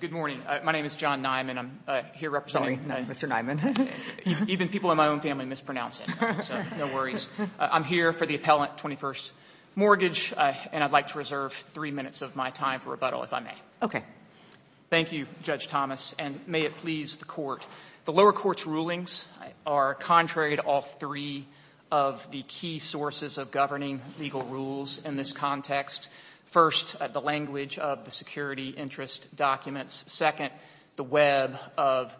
Good morning. My name is John Nyman. I'm here representing Sorry, not Mr. Nyman. Even people in my own family mispronounce it, so no worries. I'm here for the Appellant 21st Mortgage, and I'd like to reserve three minutes of my time for rebuttal, if I may. Okay. Thank you, Judge Thomas, and may it please the Court. The lower court's rulings are contrary to all three of the key sources of governing legal rules in this context. First, the language of the security interest documents. Second, the web of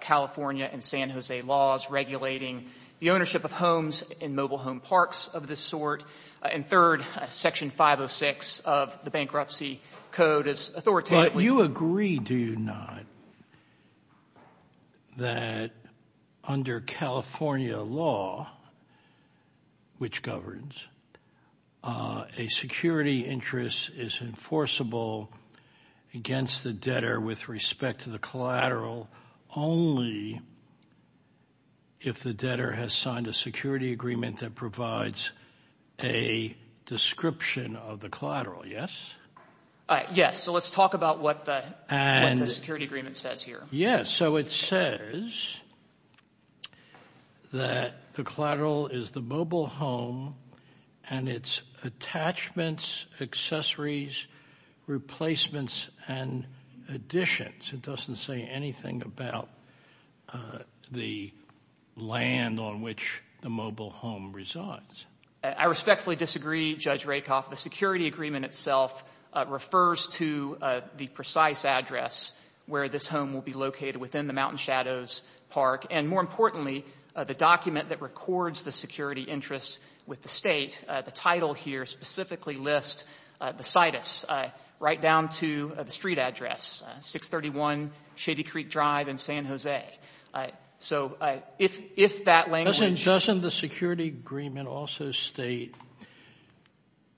California and San Jose laws regulating the ownership of homes in mobile home parks of this sort. And third, Section 506 of the Bankruptcy Code is authoritatively Do you agree, do you not, that under California law, which governs, a security interest is enforceable against the debtor with respect to the collateral only if the debtor has signed a security agreement that provides a description of the collateral, yes? Yes. So let's talk about what the security agreement says here. Yes. So it says that the collateral is the mobile home and its attachments, accessories, replacements, and additions. It doesn't say anything about the land on which the mobile home resides. I respectfully disagree, Judge Rakoff. The security agreement itself refers to the precise address where this home will be located within the Mountain Shadows Park and, more importantly, the document that records the security interest with the State. The title here specifically lists the situs right down to the street address, 631 Shady Creek Drive in San Jose. So if that language Doesn't the security agreement also state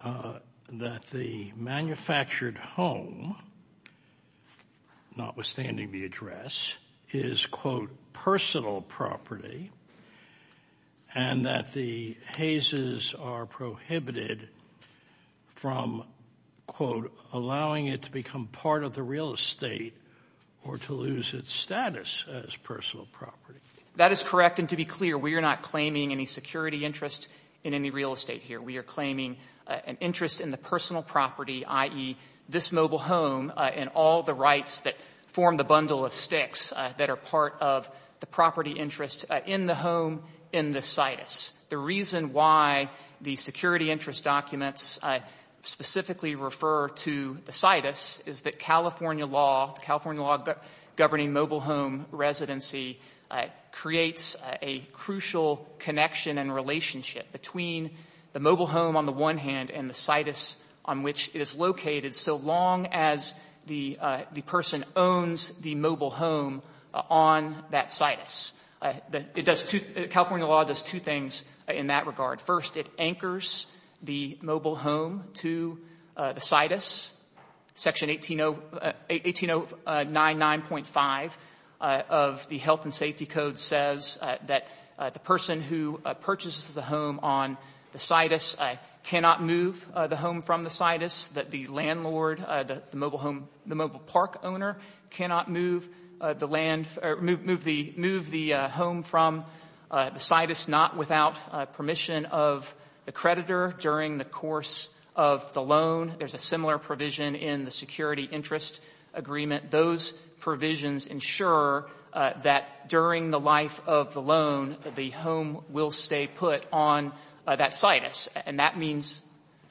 that the manufactured home, notwithstanding the address, is, quote, personal property and that the hazes are prohibited from, quote, allowing it to become part of the real estate or to lose its status as personal property? That is correct, and to be clear, we are not claiming any security interest in any real estate here. We are claiming an interest in the personal property, i.e., this mobile home and all the rights that form the bundle of sticks that are part of the property interest in the home in the situs. The reason why the security interest documents specifically refer to the situs is that California law, the California law governing mobile home residency, creates a crucial connection and relationship between the mobile home on the one hand and the situs on which it is located so long as the person owns the mobile home on that situs. California law does two things in that regard. First, it anchors the mobile home to the situs. Section 18099.5 of the Health and Safety Code says that the person who purchases the home on the situs cannot move the home from the situs, that the landlord, the mobile home, the mobile park owner cannot move the land or move the home from the situs, not without permission of the creditor during the course of the loan. There's a similar provision in the security interest agreement. Those provisions ensure that during the life of the loan, the home will stay put on that situs, and that means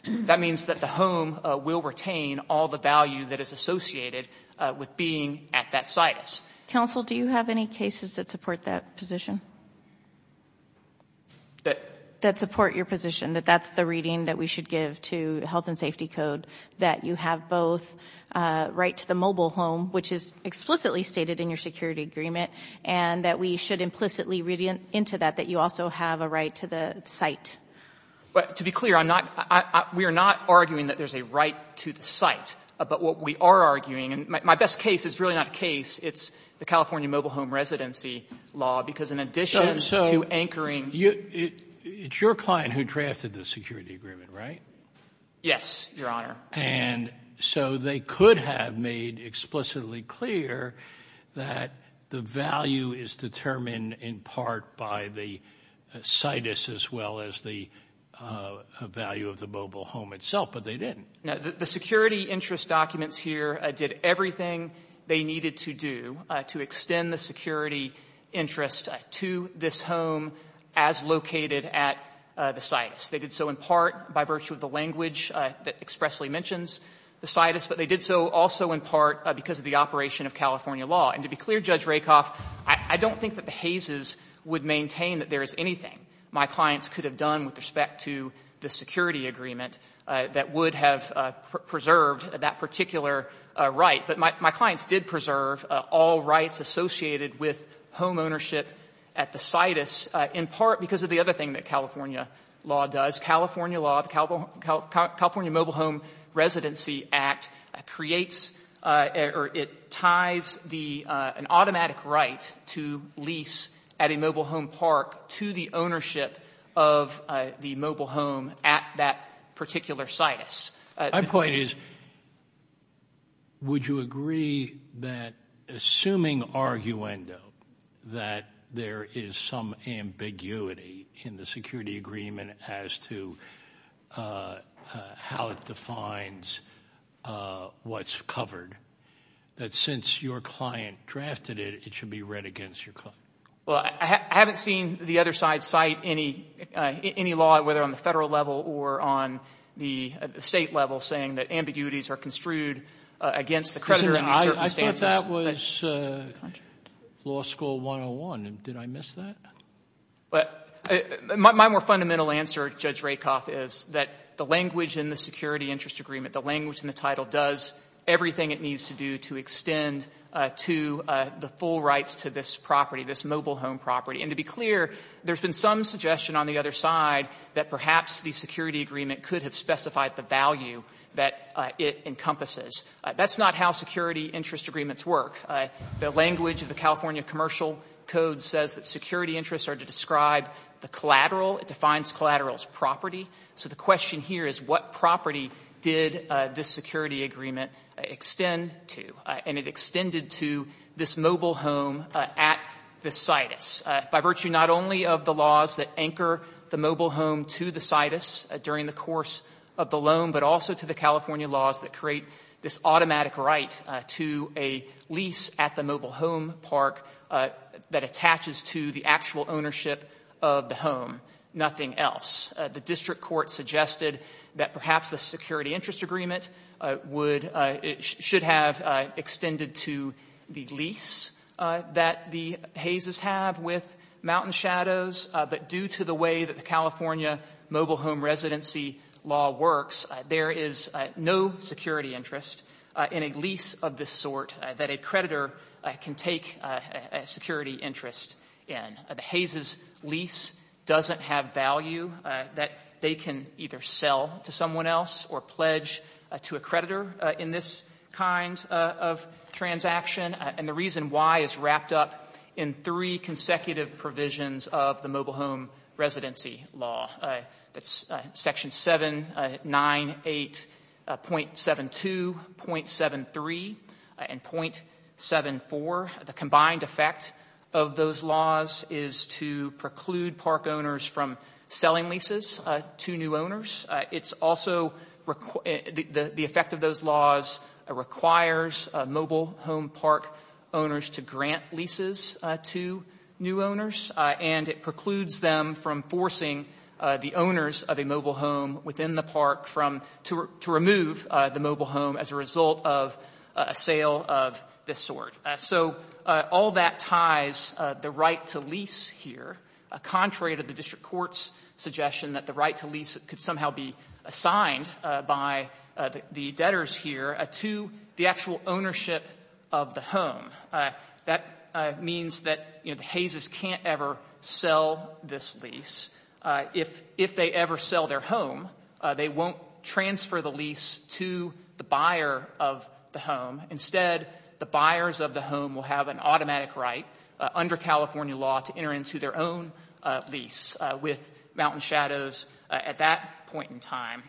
that the home will retain all the value that is associated with being at that situs. Counsel, do you have any cases that support that position? That support your position, that that's the reading that we should give to Health and Safety Code, that you have both right to the mobile home, which is explicitly stated in your security agreement, and that we should implicitly read into that that you also have a right to the site? To be clear, I'm not — we are not arguing that there's a right to the site. But what we are arguing — and my best case is really not a case. It's the California mobile home residency law, because in addition to anchoring — So it's your client who drafted the security agreement, right? Yes, Your Honor. And so they could have made explicitly clear that the value is determined in part by the situs as well as the value of the mobile home itself, but they didn't. The security interest documents here did everything they needed to do to extend the security interest to this home as located at the situs. They did so in part by virtue of the language that expressly mentions the situs, but they did so also in part because of the operation of California law. And to be clear, Judge Rakoff, I don't think that the Hayses would maintain that there is anything my clients could have done with respect to the security agreement that would have preserved that particular right. But my clients did preserve all rights associated with homeownership at the situs in part because of the other thing that California law does. California law, the California Mobile Home Residency Act, creates or it ties the — an automatic right to lease at a mobile home park to the ownership of the mobile home at that particular situs. My point is, would you agree that assuming arguendo that there is some ambiguity in the security agreement as to how it defines what's covered, that since your client drafted it, it should be read against your client? Well, I haven't seen the other side cite any law, whether on the federal level or on the State level, saying that ambiguities are construed against the creditor in these circumstances. I thought that was law school 101. Did I miss that? My more fundamental answer, Judge Rakoff, is that the language in the security interest agreement, the language in the title does everything it needs to do to extend to the full rights to this property, this mobile home property. And to be clear, there's been some suggestion on the other side that perhaps the security agreement could have specified the value that it encompasses. That's not how security interest agreements work. The language of the California Commercial Code says that security interests are to describe the collateral. It defines collateral as property. So the question here is what property did this security agreement extend to? And it extended to this mobile home at the situs. By virtue not only of the laws that anchor the mobile home to the situs during the course of the loan, but also to the California laws that create this automatic right to a lease at the mobile home park that attaches to the actual ownership of the home, nothing else. The district court suggested that perhaps the security interest agreement would have extended to the lease that the Hayes' have with Mountain Shadows, but due to the way that the California mobile home residency law works, there is no security interest in a lease of this sort that a creditor can take a security interest in. The Hayes' lease doesn't have value that they can either sell to someone else or pledge to a creditor in this kind of transaction, and the reason why is wrapped up in three consecutive provisions of the mobile home residency law. That's section 798.72, .73, and .74. The combined effect of those laws is to preclude park owners from selling leases to new owners. The effect of those laws requires mobile home park owners to grant leases to new owners, and it precludes them from forcing the owners of a mobile home within the park to remove the mobile home as a result of a sale of this sort. So all that ties the right to lease here contrary to the district court's suggestion that the right to lease could somehow be assigned by the debtors here to the actual ownership of the home. That means that the Hayes' can't ever sell this lease. If they ever sell their home, they won't transfer the lease to the buyer of the home. Instead, the buyers of the home will have an automatic right under California law to enter into their own lease with Mountain Shadows at that point in time.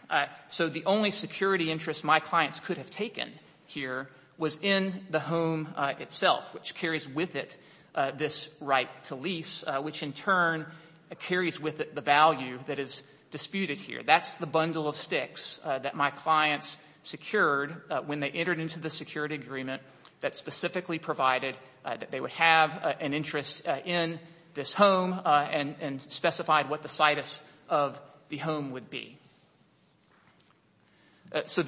So the only security interest my clients could have taken here was in the home itself, which carries with it this right to lease, which in turn carries with it the value that is disputed here. That's the bundle of sticks that my clients secured when they entered into the security agreement that specifically provided that they would have an interest in this home and specified what the situs of the home would be. So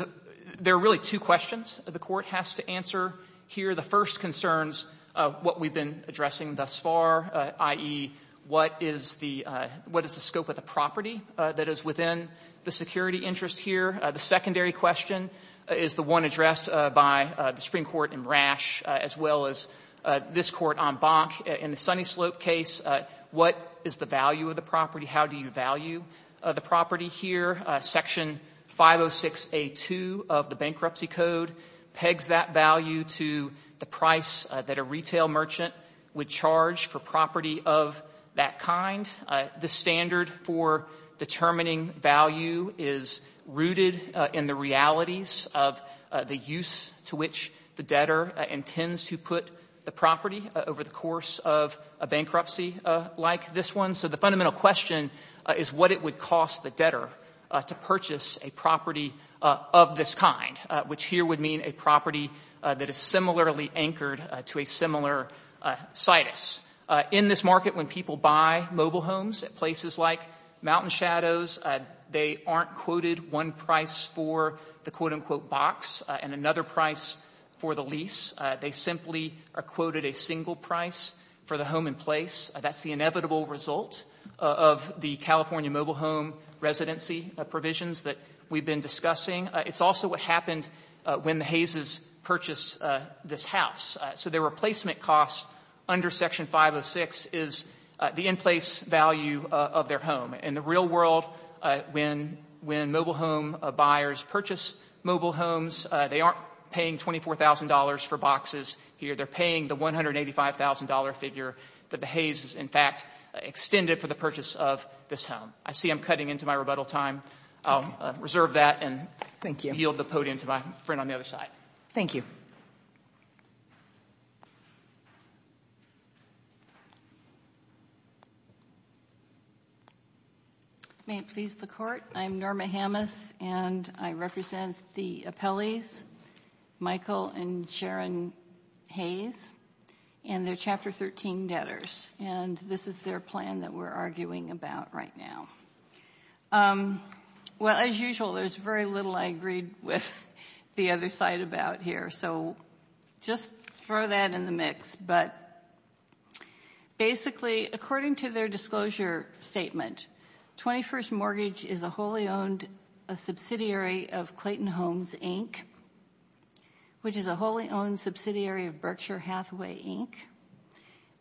there are really two questions the court has to answer here. The first concerns what we've been addressing thus far, i.e., what is the scope of the property that is within the security interest here? The secondary question is the one addressed by the Supreme Court in Rash as well as this court on Bonk. In the Sunny Slope case, what is the value of the property? How do you value the property here? Section 506A2 of the Bankruptcy Code pegs that value to the price that a retail merchant would charge for property of that kind. This standard for determining value is rooted in the realities of the use to which the debtor intends to put the property over the course of a bankruptcy like this one. So the fundamental question is what it would cost the debtor to purchase a property of this kind, which here would mean a property that is similarly anchored to a similar situs. In this market, when people buy mobile homes at places like Mountain Shadows, they aren't quoted one price for the quote-unquote box and another price for the lease. They simply are quoted a single price for the home in place. That's the inevitable result of the California mobile home residency provisions that we've been discussing. It's also what happened when the Hayses purchased this house. So the replacement cost under Section 506 is the in-place value of their home. In the real world, when mobile home buyers purchase mobile homes, they aren't paying $24,000 for boxes here. They're paying the $185,000 figure that the Hayses, in fact, extended for the purchase of this home. I see I'm cutting into my rebuttal time. I'll reserve that and yield the podium to my friend on the other side. Thank you. May it please the Court, I'm Norma Hammes, and I represent the appellees, Michael and Sharon Hayes, and their Chapter 13 debtors. This is their plan that we're arguing about right now. Well, as usual, there's very little I agreed with the other side about here, so just throw that in the mix. Basically, according to their disclosure statement, 21st Mortgage is a wholly owned subsidiary of Clayton Homes, Inc., which is a wholly owned subsidiary of Berkshire Hathaway, Inc.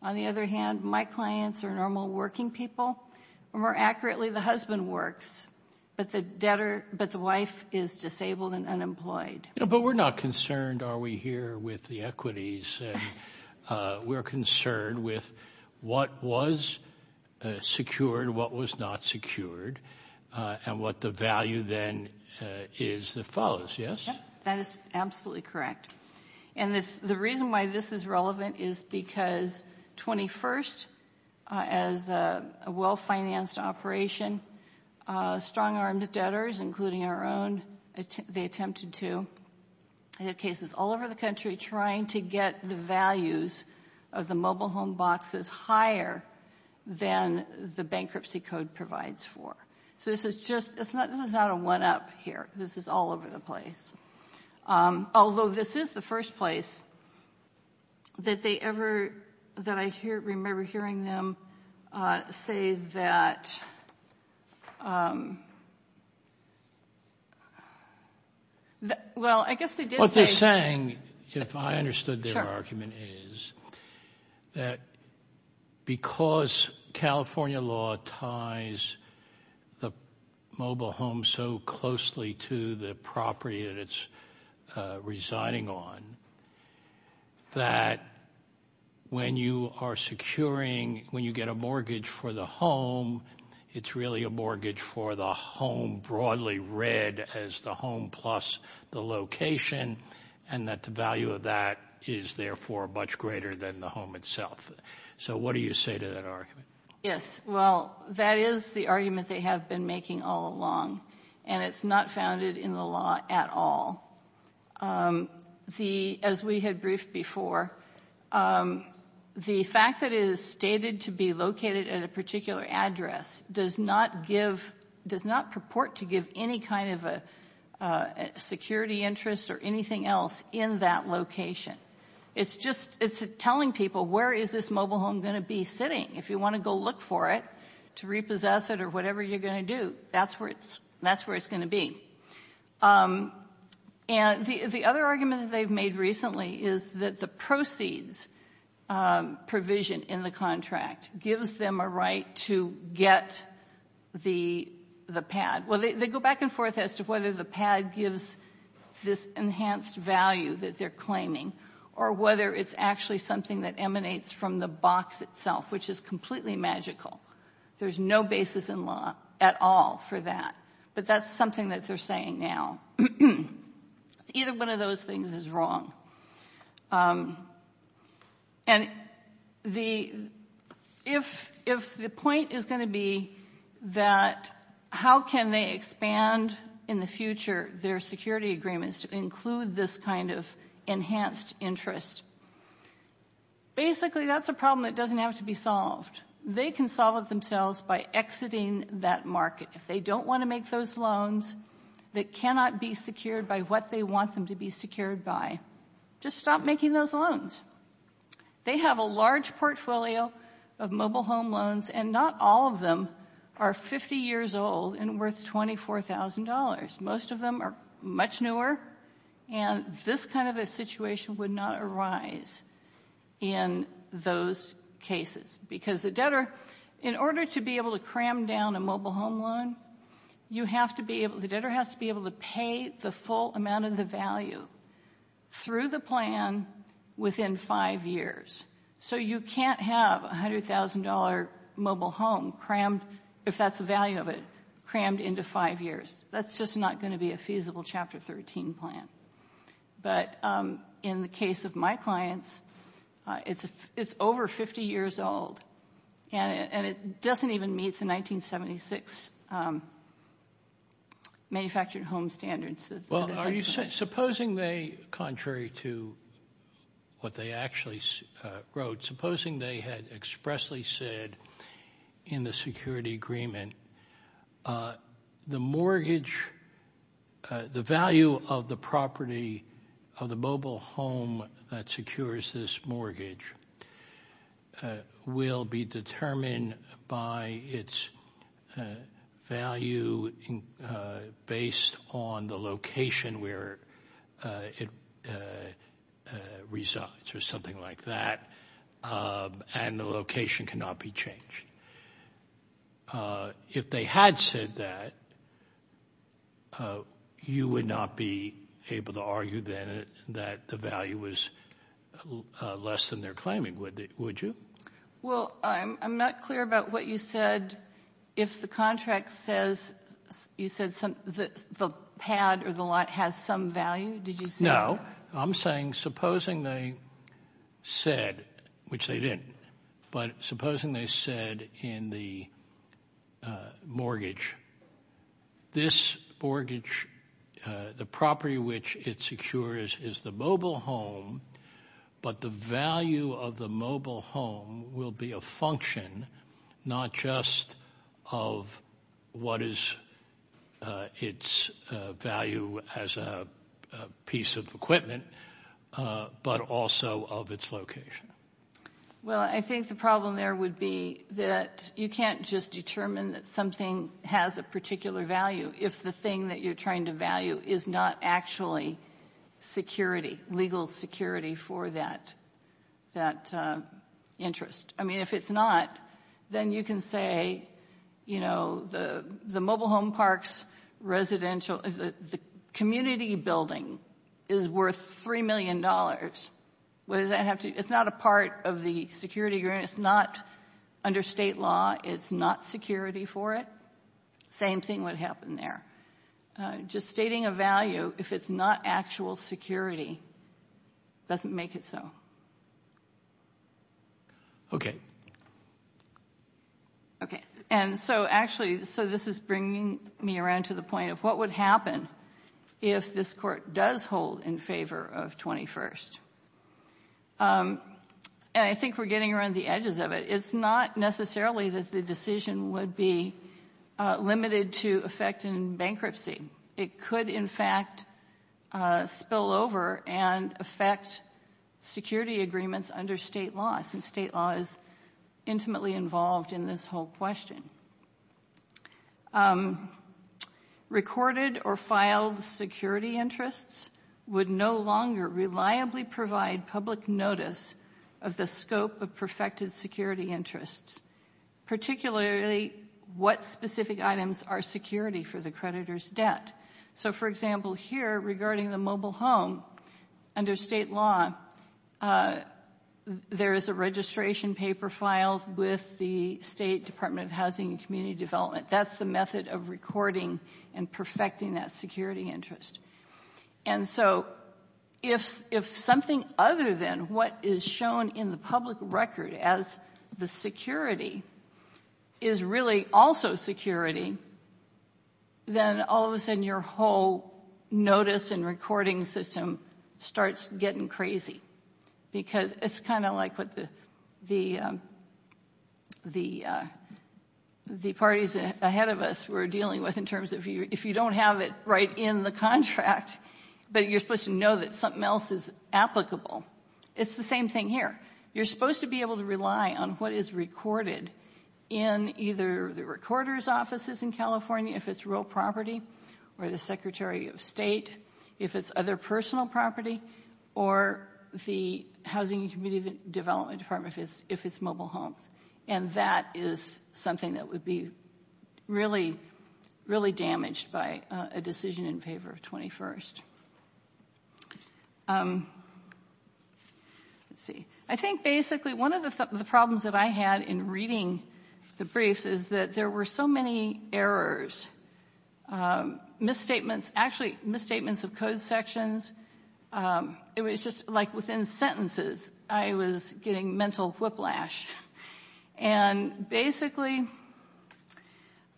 On the other hand, my clients are normal working people, or more accurately, the husband works, but the wife is disabled and unemployed. But we're not concerned, are we here, with the equities? We're concerned with what was secured, what was not secured, and what the value then is that follows, yes? That is absolutely correct. And the reason why this is relevant is because 21st, as a well-financed operation, strong-armed debtors, including our own, they attempted to hit cases all over the country trying to get the values of the mobile home boxes higher than the bankruptcy code provides for. So this is not a one-up here. This is all over the place. Although this is the first place that they ever, that I remember hearing them say that, well, I guess they did say... What they're saying, if I understood their argument, is that because California law ties the mobile home so closely to the property that it's residing on, that when you are securing, when you get a mortgage for the home, it's really a mortgage for the home broadly read as the home plus the location, and that the value of that is therefore much greater than the home itself. So what do you say to that argument? Yes, well, that is the argument they have been making all along, and it's not founded in the law at all. As we had briefed before, the fact that it is stated to be located at a particular address does not give, does not purport to give any kind of a security interest or anything else in that location. It's just, it's telling people, where is this mobile home going to be sitting? If you want to go look for it, to repossess it or whatever you're going to do, that's where it's going to be. And the other argument that they've made recently is that the proceeds provision in the contract gives them a right to get the pad. Well, they go back and forth as to whether the pad gives this enhanced value that they're claiming, or whether it's actually something that emanates from the box itself, which is completely magical. There's no basis in law at all for that. But that's something that they're saying now. Either one of those things is wrong. And the, if the point is going to be that, how can they expand in the future their security agreements to include this kind of enhanced interest? Basically, that's a problem that doesn't have to be solved. They can solve it themselves by exiting that market. If they don't want to make those loans that cannot be secured by what they want them to be secured by, just stop making those loans. They have a large portfolio of mobile home loans, and not all of them are 50 years old and worth $24,000. Most of them are much newer. And this kind of a situation would not arise in those cases, because the debtor, in order to be able to cram down a mobile home loan, you have to be able, the debtor has to be able to pay the full amount of the value through the plan within five years. So you can't have a $100,000 mobile home crammed, if that's the value of it, crammed into five years. That's just not going to be a feasible Chapter 13 plan. But in the case of my clients, it's over 50 years old, and it doesn't even meet the 1976 manufactured home standards. Contrary to what they actually wrote, supposing they had expressly said in the security agreement, the mortgage, the value of the property of the mobile home that secures this mortgage will be determined by its value based on the location where it resides, or something like that, and the location cannot be changed. If they had said that, you would not be able to argue then that the value was less than they're claiming, would you? Well, I'm not clear about what you said. If the contract says, you said the pad or the lot has some value, did you say that? No, I'm saying supposing they said, which they didn't, but supposing they said in the mortgage, this mortgage, the property which it secures is the mobile home, but the value of the mobile home will be a function, not just of what is its value as a piece of equipment, but also of its location. Well, I think the problem there would be that you can't just determine that something has a particular value if the thing that you're trying to value is not actually security, legal security for that interest. I mean, if it's not, then you can say the mobile home parks residential, the community building is worth $3 million. It's not a part of the security agreement. It's not under state law. It's not security for it. Same thing would happen there. Just stating a value if it's not actual security doesn't make it so. Okay. Okay. And so actually, so this is bringing me around to the point of what would happen if this court does hold in favor of 21st? And I think we're getting around the edges of it. It's not necessarily that the decision would be limited to effect in bankruptcy. It could in fact spill over and affect security agreements under state laws and state laws intimately involved in this whole question. Recorded or filed security interests would no longer reliably provide public notice of the scope of perfected security interests, particularly what specific items are security for the creditor's debt. So for example, here regarding the mobile home, under state law, there is a registration paper filed with the State Department of Housing and Community Development. That's the method of recording and perfecting that security interest. And so if something other than what is shown in the public record as the security is really also security, then all of a sudden your whole notice and recording system starts getting crazy. Because it's kind of like what the parties ahead of us were dealing with in terms of if you don't have it right in the contract, but you're supposed to know that something else is applicable. It's the same thing here. You're supposed to be able to rely on what is recorded in either the recorder's offices in California, if it's real property, or the Secretary of State, if it's other personal property, or the Housing and Community Development Department if it's mobile homes. And that is something that would be really, really damaged by a decision in favor of 21st. Let's see. I think basically one of the problems that I had in reading the briefs is that there were so many errors, misstatements, actually misstatements of code sections. It was just like within sentences I was getting mental whiplash. And basically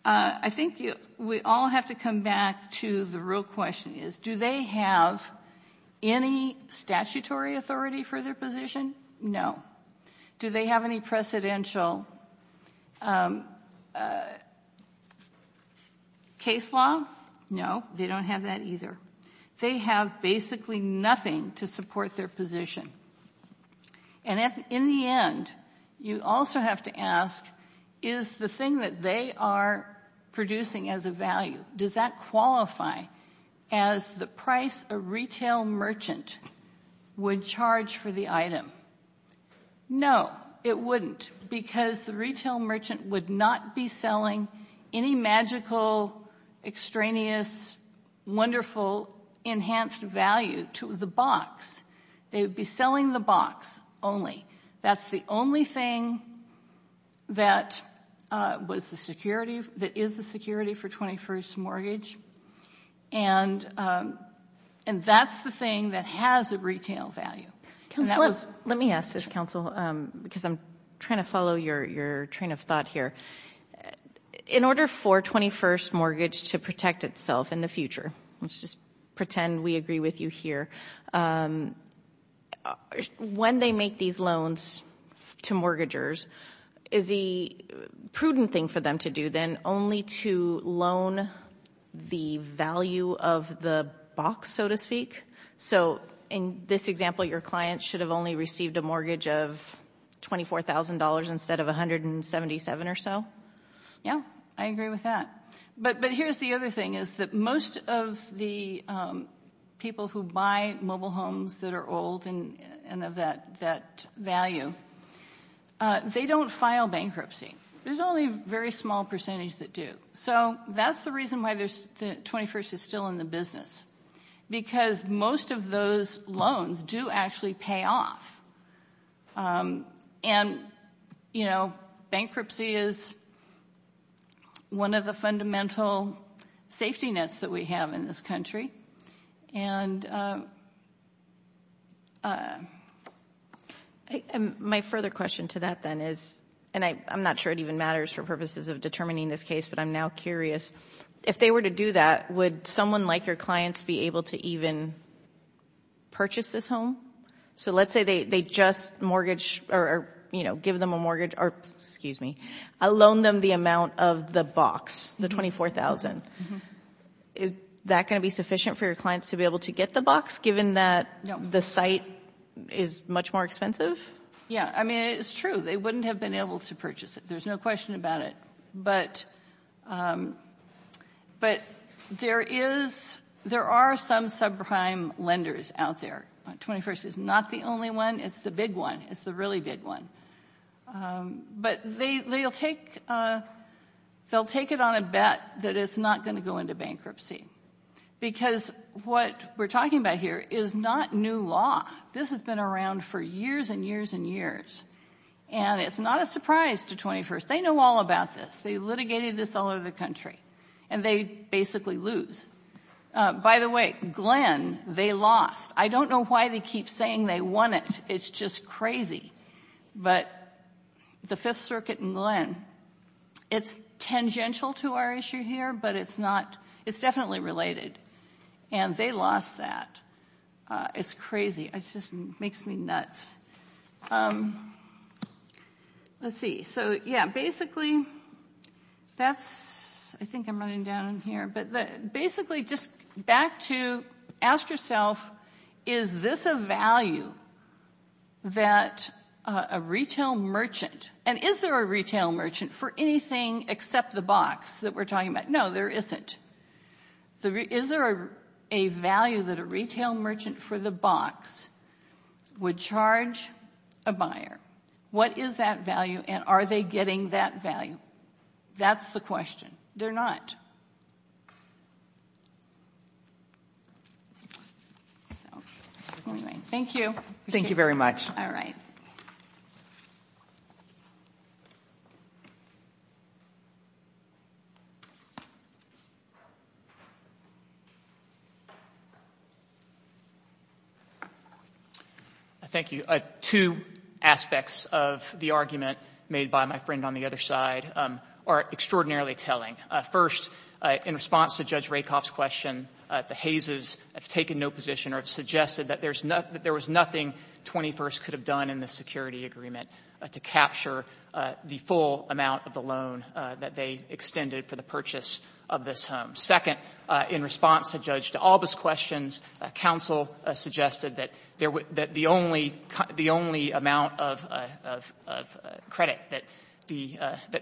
I think we all have to come back to the real question is do they have any statutory authority for their position? No. Do they have any precedential case law? No, they don't have that either. They have basically nothing to support their position. And in the end, you also have to ask, is the thing that they are producing as a value, does that qualify as the price a retail merchant would charge for the item? No, it wouldn't, because the retail merchant would not be selling any magical, extraneous, wonderful, enhanced value to the box. They would be selling the item that is the security for 21st mortgage. And that's the thing that has a retail value. Let me ask this, counsel, because I'm trying to follow your train of thought here. In order for 21st mortgage to protect itself in the future, let's just pretend we agree with you here, when they make these loans to mortgagers, is the prudent thing for them to do then only to loan the value of the box, so to speak? So in this example, your client should have only received a mortgage of $24,000 instead of $177,000 or so? Yeah, I agree with that. But here's the other thing, is that most of the people who buy mobile homes that are old and of that value, they don't file bankruptcy. There's only a very small percentage that do. So that's the reason why 21st is still in the business, because most of those loans do actually pay off. And, you know, bankruptcy is one of the fundamental safety nets that we have in this country. My further question to that then is, and I'm not sure it even matters for purposes of determining this case, but I'm now curious, if they were to do that, would someone like your clients be able to even purchase this home? So let's say they just mortgage or, you know, give them a mortgage or, excuse me, loan them the amount of the box, the $24,000. Is that going to be sufficient for your clients to be able to get the box, given that the site is much more expensive? Yeah, I mean, it's true. They wouldn't have been able to purchase it. There's no question about it. But there are some subprime lenders out there. 21st is not the only one. It's the big one. It's the really big one. But they'll take it on a bet that it's not going to go into bankruptcy. Because what we're talking about here is not new law. This has been around for years and years and years. And it's not a surprise to 21st. They know all about this. They litigated this all over the country. And they basically lose. By the way, Glenn, they lost. I don't know why they keep saying they won it. It's just crazy. But the Fifth Circuit and Glenn, it's tangential to our issue here, but it's not, it's definitely related. And they lost that. It's crazy. It just makes me nuts. Let's see. So, yeah, basically, that's, I think I'm running down here. But basically, just back to, ask yourself, is this a value? Is this a value that a retail merchant, and is there a retail merchant for anything except the box that we're talking about? No, there isn't. Is there a value that a retail merchant for the box would charge a buyer? What is that value? And are they getting that value? That's the question. They're not. Anyway, thank you. Thank you very much. All right. Thank you. Two aspects of the argument made by my friend on the other side are extraordinarily telling. First, in response to Judge Rakoff's question, the Hayses have taken no position or have suggested that there was nothing 21st could have done in the security agreement to capture the full amount of the loan that they extended for the purchase of this home. Second, in response to Judge D'Alba's questions, counsel suggested that the only amount of credit that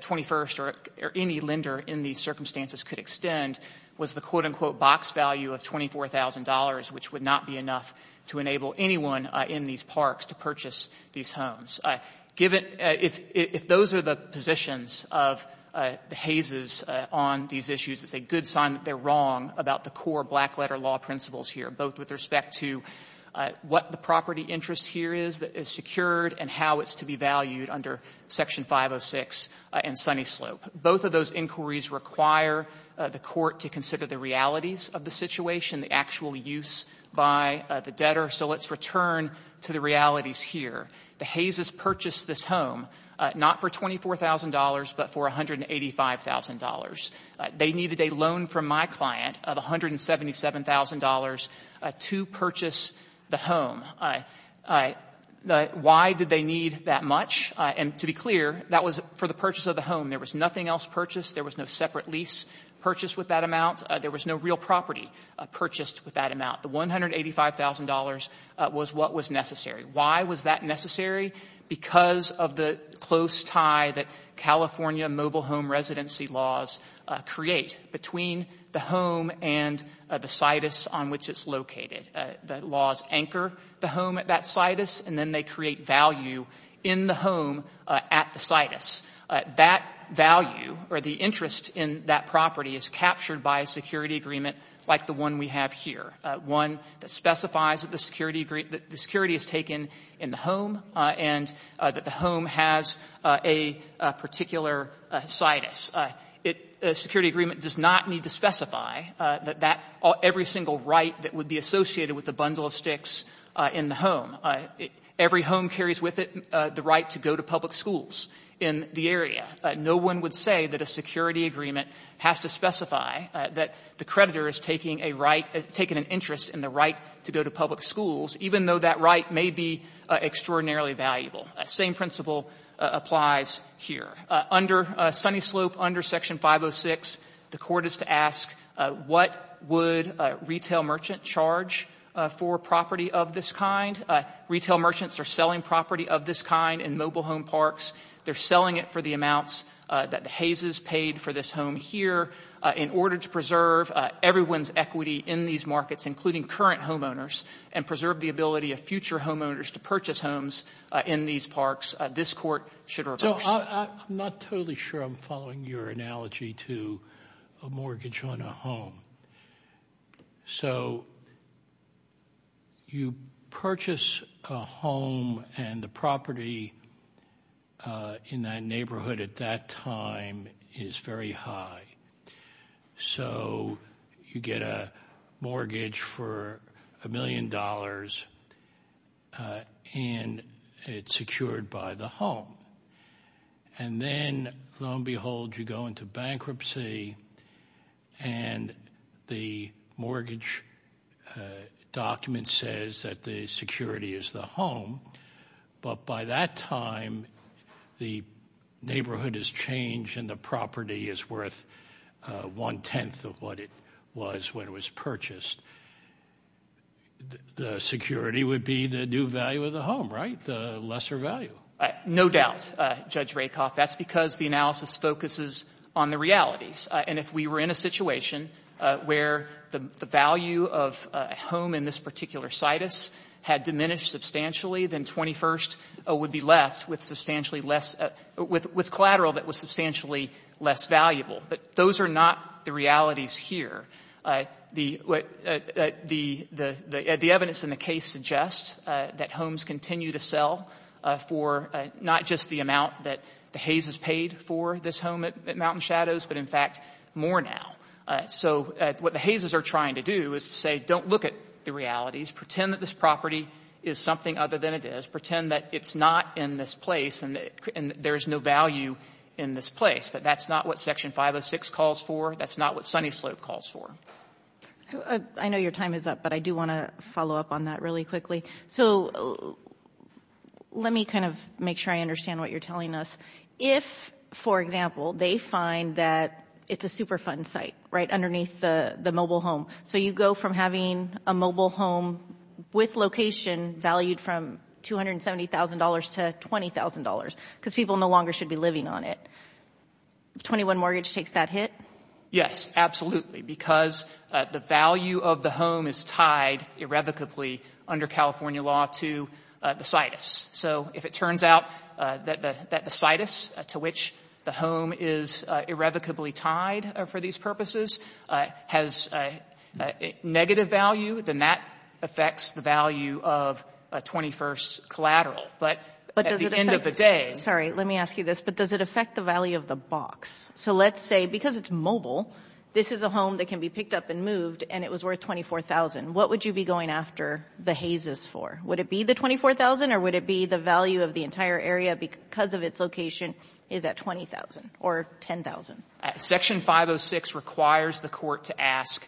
21st or any lender in these circumstances could extend was the, quote-unquote, box value of $24,000, which would not be enough to enable anyone in these parks to purchase these homes. If those are the positions of the Hayses on these issues, it's a good sign that they're wrong about the core black-letter law principles here, both with respect to what the property interest here is that is on the slope. Both of those inquiries require the court to consider the realities of the situation, the actual use by the debtor. So let's return to the realities here. The Hayses purchased this home not for $24,000, but for $185,000. They needed a loan from my client of $177,000 to purchase the home. Why did they need that much? And to be clear, that was for the purchase of the home. There was nothing else purchased. There was no separate lease purchased with that amount. There was no real property purchased with that amount. The $185,000 was what was necessary. Why was that necessary? Because of the close tie that California mobile home residency laws create between the home and the situs on which it's located. The laws anchor the home at that situs, and then they create value in the home at the situs. That value or the interest in that property is captured by a security agreement like the one we have here, one that specifies that the security is taken in the home and that the home has a particular situs. A security agreement does not need to specify that every single right that would be associated with the bundle of sticks in the home, every home carries with it the right to go to public schools in the area. No one would say that a security agreement has to specify that the creditor is taking a right, taking an interest in the right to go to public schools, even though that right may be extraordinarily valuable. The same principle applies here. Under Sunny Slope, under Section 506, the Court is to ask what would retail merchant charge for property of this kind. Retail merchants are selling property of this kind in mobile home parks. They're selling it for the amounts that Hayes has paid for this home here in order to preserve everyone's equity in these markets, including current homeowners, and preserve the ability of future homeowners to purchase homes in these parks. This Court should reverse that. I'm not totally sure I'm following your analogy to a mortgage on a home. So you purchase a home, and the property in that neighborhood at that time is very high. So you get a mortgage for a million dollars, and it's secured by the home. And then, lo and behold, you go into bankruptcy, and the mortgage document says that the security is the home. But by that time, the neighborhood has changed, and the property is worth one-tenth of what it was when it was purchased. The security would be the new value of the home, right? The lesser value. No doubt, Judge Rakoff. That's because the analysis focuses on the realities. And if we were in a situation where the value of a home in this particular situs had diminished substantially, then 21st would be left with substantially less — with collateral that was substantially less valuable. But those are not the realities here. The evidence in the case suggests that homes continue to sell for not just the amount that the Hayeses paid for this home at Mountain Shadows, but, in fact, more now. So what the Hayeses are trying to do is to say, don't look at the realities. Pretend that this property is something other than it is. Pretend that it's not in this place, and there's no value in this place. But that's not what Section 506 calls for. That's not what Sunny Slope calls for. I know your time is up, but I do want to follow up on that really quickly. So let me kind of make sure I understand what you're telling us. If, for example, they find that it's a Superfund site, right, underneath the mobile home, so you go from having a mobile home with location valued from $270,000 to $20,000 because people no longer should be living on it, 21 Mortgage takes that hit? Yes, absolutely, because the value of the home is tied irrevocably under California law to the situs. So if it turns out that the situs to which the home is irrevocably tied for these purposes has negative value, then that affects the value of 21st Collateral. But at the end of the day — Let me ask you this. But does it affect the value of the box? So let's say, because it's mobile, this is a home that can be picked up and moved, and it was worth $24,000. What would you be going after the hazes for? Would it be the $24,000, or would it be the value of the entire area because of its location is at $20,000 or $10,000? Section 506 requires the court to ask,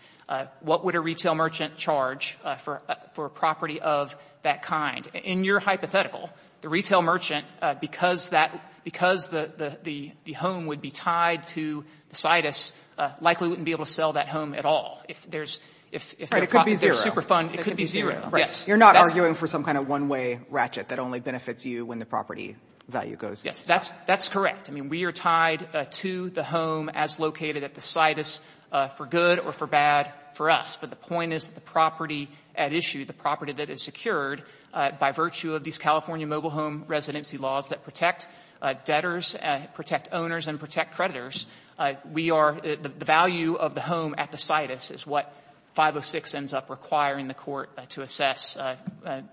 what would a retail merchant charge for a property of that kind? In your hypothetical, the retail merchant, because that — because the home would be tied to the situs, likely wouldn't be able to sell that home at all. If there's — It could be zero. It could be zero, yes. You're not arguing for some kind of one-way ratchet that only benefits you when the property value goes down. Yes. That's correct. I mean, we are tied to the home as located at the situs for good or for bad for us. But the point is the property at issue, the property that is secured by virtue of these California mobile home residency laws that protect debtors, protect owners, and protect creditors, we are — the value of the home at the situs is what 506 ends up requiring the court to assess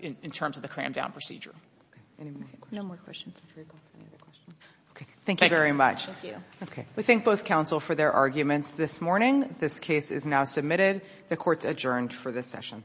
in terms of the cram-down procedure. Any more questions? No more questions. Okay. Thank you very much. Thank you. Okay. We thank both counsel for their arguments this morning. This case is now submitted. The court is adjourned for this session.